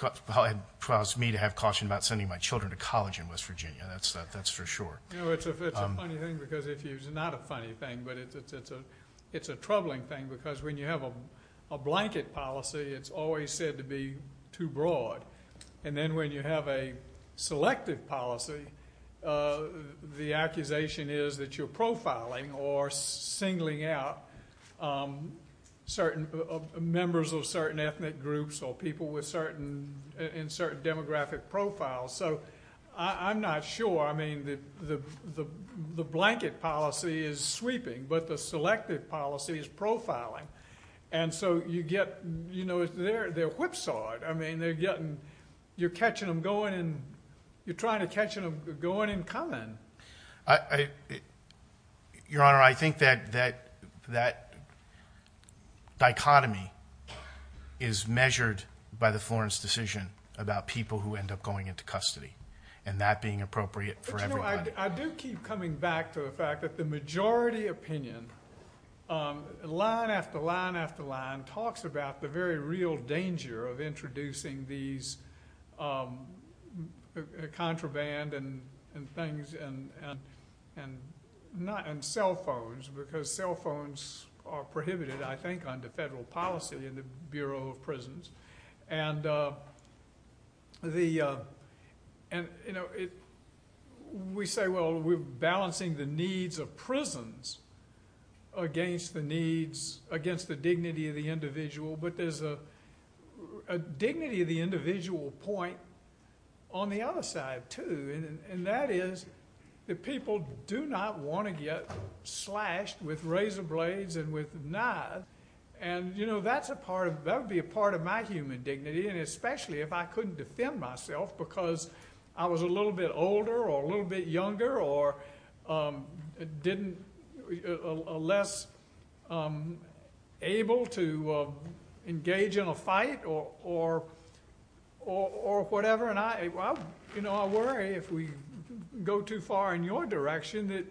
caused me to have caution about sending my children to college in West Virginia. That's for sure. It's a funny thing because it's not a funny thing, but it's a troubling thing because when you have a blanket policy, it's always said to be too broad. And then when you have a selective policy, the accusation is that you're profiling or singling out members of certain ethnic groups or people in certain demographic profiles. So I'm not sure. I mean the blanket policy is sweeping, but the selective policy is profiling. And so you get, you know, they're whipsawed. I mean you're catching them going and you're trying to catch them going and coming. Your Honor, I think that dichotomy is measured by the Florence decision about people who end up going into custody and that being appropriate for everybody. But, you know, I do keep coming back to the fact that the majority opinion, line after line after line, talks about the very real danger of introducing these contraband and things and cell phones because cell phones are prohibited, I think, under federal policy in the Bureau of Prisons. And, you know, we say, well, we're balancing the needs of prisons against the needs, against the dignity of the individual. But there's a dignity of the individual point on the other side, too, and that is that people do not want to get slashed with razor blades and with knives. And, you know, that's a part of, that would be a part of my human dignity, and especially if I couldn't defend myself because I was a little bit older or a little bit younger or didn't, less able to engage in a fight or whatever. And, you know, I worry if we go too far in your direction that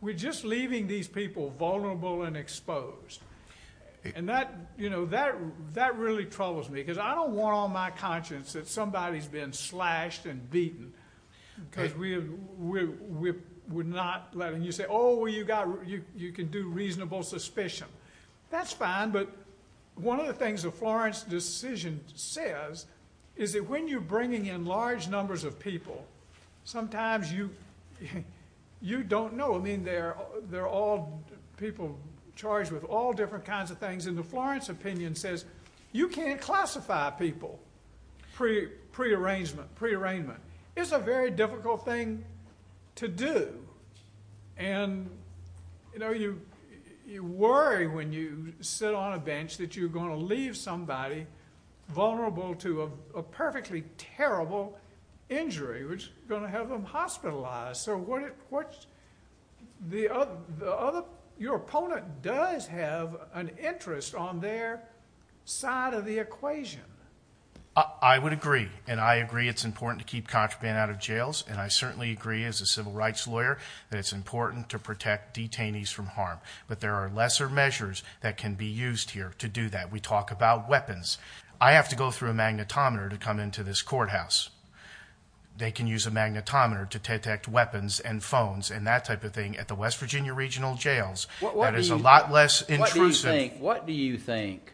we're just leaving these people vulnerable and exposed. And that, you know, that really troubles me because I don't want on my conscience that somebody's been slashed and beaten because we're not letting you say, oh, well, you can do reasonable suspicion. That's fine, but one of the things the Florence decision says is that when you're bringing in large numbers of people, sometimes you don't know. I mean, they're all people charged with all different kinds of things. And the Florence opinion says you can't classify people, prearrangement. It's a very difficult thing to do. And, you know, you worry when you sit on a bench that you're going to leave somebody vulnerable to a perfectly terrible injury which is going to have them hospitalized. So what's the other, your opponent does have an interest on their side of the equation. I would agree, and I agree it's important to keep contraband out of jails. And I certainly agree as a civil rights lawyer that it's important to protect detainees from harm. But there are lesser measures that can be used here to do that. We talk about weapons. I have to go through a magnetometer to come into this courthouse. They can use a magnetometer to detect weapons and phones and that type of thing at the West Virginia Regional Jails. That is a lot less intrusive. What do you think,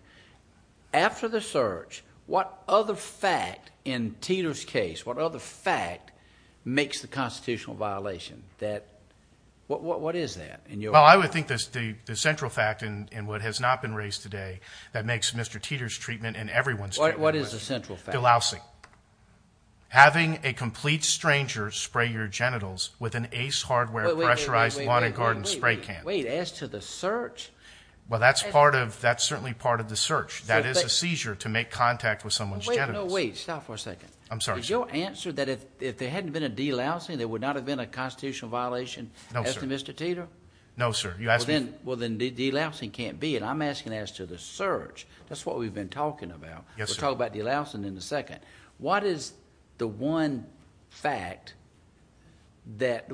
after the search, what other fact in Teeter's case, what other fact makes the constitutional violation that, what is that? Well, I would think the central fact in what has not been raised today that makes Mr. Teeter's treatment and everyone's treatment. What is the central fact? Dilousing. Having a complete stranger spray your genitals with an Ace Hardware pressurized lawn and garden spray can. Wait, as to the search? Well, that's certainly part of the search. That is a seizure to make contact with someone's genitals. No, wait, stop for a second. I'm sorry, sir. Is your answer that if there hadn't been a dilousing, there would not have been a constitutional violation as to Mr. Teeter? No, sir. Well, then dilousing can't be it. I'm asking as to the search. That's what we've been talking about. We'll talk about dilousing in a second. What is the one fact that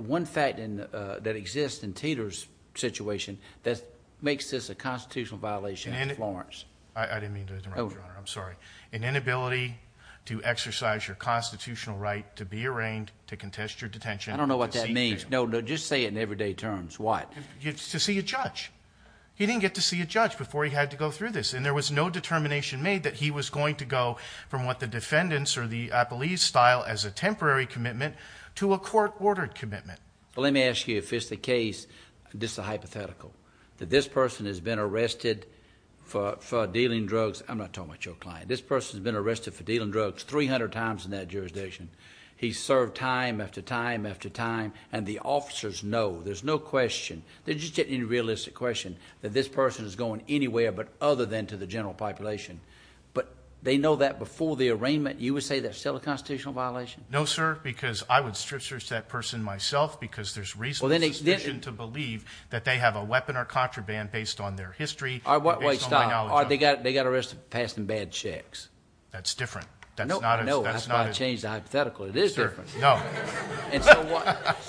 exists in Teeter's situation that makes this a constitutional violation in Florence? I didn't mean to interrupt, Your Honor. I'm sorry. An inability to exercise your constitutional right to be arraigned, to contest your detention. I don't know what that means. No, just say it in everyday terms. What? To see a judge. He didn't get to see a judge before he had to go through this. And there was no determination made that he was going to go from what the defendants or the police style as a temporary commitment to a court-ordered commitment. Let me ask you if it's the case, just a hypothetical, that this person has been arrested for dealing drugs. I'm not talking about your client. This person has been arrested for dealing drugs 300 times in that jurisdiction. He's served time after time after time. And the officers know. There's no question. There's just any realistic question that this person is going anywhere but other than to the general population. But they know that before the arraignment. You would say that's still a constitutional violation? No, sir, because I would stretch that person myself because there's reasonable suspicion to believe that they have a weapon or contraband based on their history. Wait, stop. They got arrested for passing bad checks. That's different. No, that's why I changed the hypothetical. It is different. No.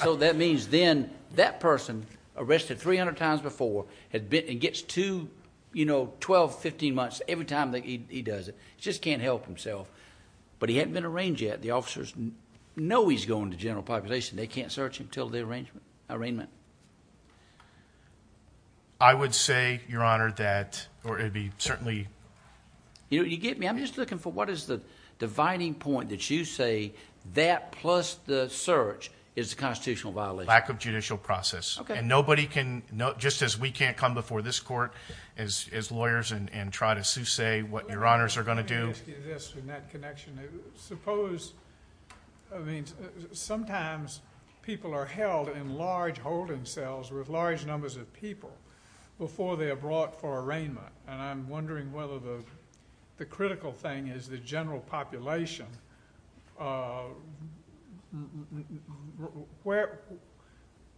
So that means then that person, arrested 300 times before, gets 12, 15 months every time he does it. He just can't help himself. But he hasn't been arranged yet. The officers know he's going to the general population. They can't search him until the arraignment. I would say, Your Honor, that it would be certainly. You get me? I'm just looking for what is the dividing point that you say that plus the search is a constitutional violation. Lack of judicial process. Okay. And nobody can, just as we can't come before this court as lawyers and try to say what Your Honors are going to do. Yes, in that connection. Suppose, I mean, sometimes people are held in large holding cells with large numbers of people before they are brought for arraignment. And I'm wondering whether the critical thing is the general population.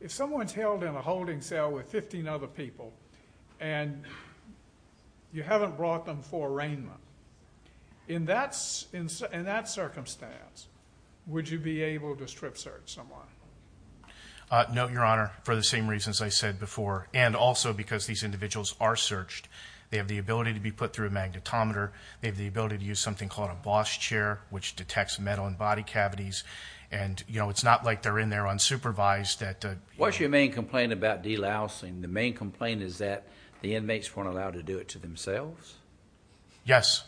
If someone's held in a holding cell with 15 other people and you haven't brought them for arraignment, in that circumstance, would you be able to strip search someone? No, Your Honor, for the same reasons I said before. And also because these individuals are searched. They have the ability to be put through a magnetometer. They have the ability to use something called a Bosch chair, which detects metal in body cavities. And, you know, it's not like they're in there unsupervised. What's your main complaint about de-lousing? The main complaint is that the inmates weren't allowed to do it to themselves? Yes.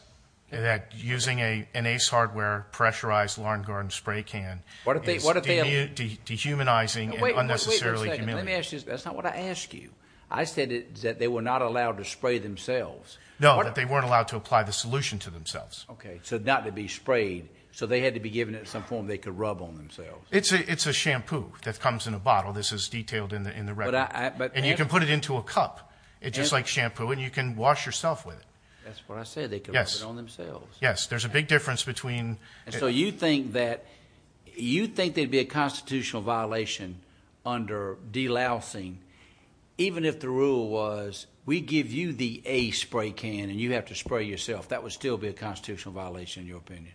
That using an Ace Hardware pressurized lawn garden spray can is dehumanizing and unnecessarily humiliating. Let me ask you this. That's not what I asked you. I said that they were not allowed to spray themselves. No, that they weren't allowed to apply the solution to themselves. Okay. So not to be sprayed. So they had to be given it in some form they could rub on themselves. It's a shampoo that comes in a bottle. This is detailed in the record. And you can put it into a cup. It's just like shampoo, and you can wash yourself with it. That's what I said. They can rub it on themselves. Yes. There's a big difference between. And so you think that they'd be a constitutional violation under de-lousing, even if the rule was we give you the Ace spray can and you have to spray yourself. That would still be a constitutional violation in your opinion.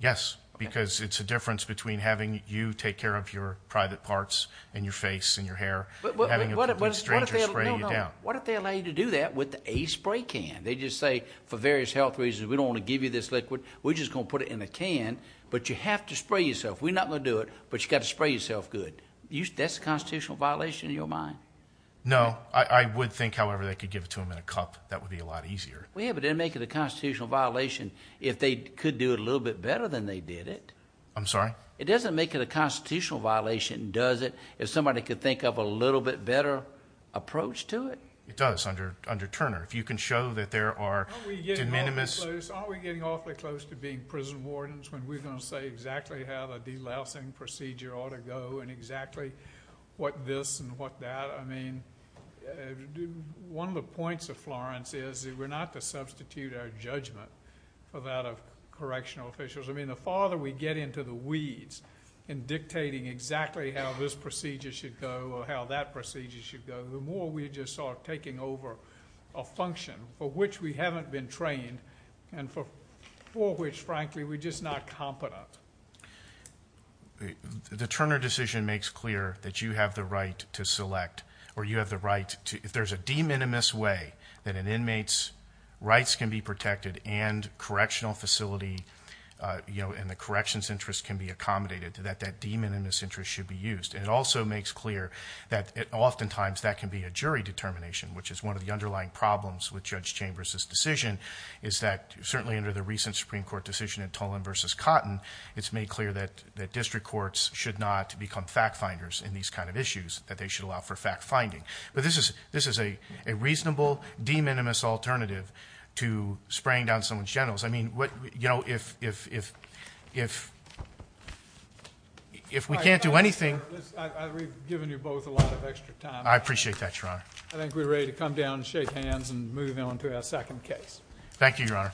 Yes, because it's a difference between having you take care of your private parts and your face and your hair. What if they allow you to do that with the Ace spray can? They just say, for various health reasons, we don't want to give you this liquid. We're just going to put it in a can, but you have to spray yourself. We're not going to do it, but you've got to spray yourself good. That's a constitutional violation in your mind? No. I would think, however, they could give it to them in a cup. That would be a lot easier. Yeah, but it would make it a constitutional violation if they could do it a little bit better than they did it. I'm sorry? It doesn't make it a constitutional violation, does it, if somebody could think of a little bit better approach to it? It does under Turner. If you can show that there are de minimis. Are we getting awfully close to being prison wardens when we're going to say exactly how the delousing procedure ought to go and exactly what this and what that? I mean, one of the points of Florence is that we're not to substitute our judgment for that of correctional officials. I mean, the farther we get into the weeds in dictating exactly how this procedure should go or how that procedure should go, the more we just start taking over a function for which we haven't been trained and for which, frankly, we're just not competent. The Turner decision makes clear that you have the right to select or you have the right to, if there's a de minimis way that an inmate's rights can be protected and correctional facility and the corrections interest can be accommodated to that, that de minimis interest should be used. And it also makes clear that oftentimes that can be a jury determination, which is one of the underlying problems with Judge Chambers's decision, is that certainly under the recent Supreme Court decision in Tolan v. Cotton, it's made clear that district courts should not become fact-finders in these kind of issues, that they should allow for fact-finding. But this is a reasonable de minimis alternative to spraying down someone's genitals. I mean, you know, if we can't do anything. I've given you both a lot of extra time. I appreciate that, Your Honor. I think we're ready to come down and shake hands and move on to our second case. Thank you, Your Honor.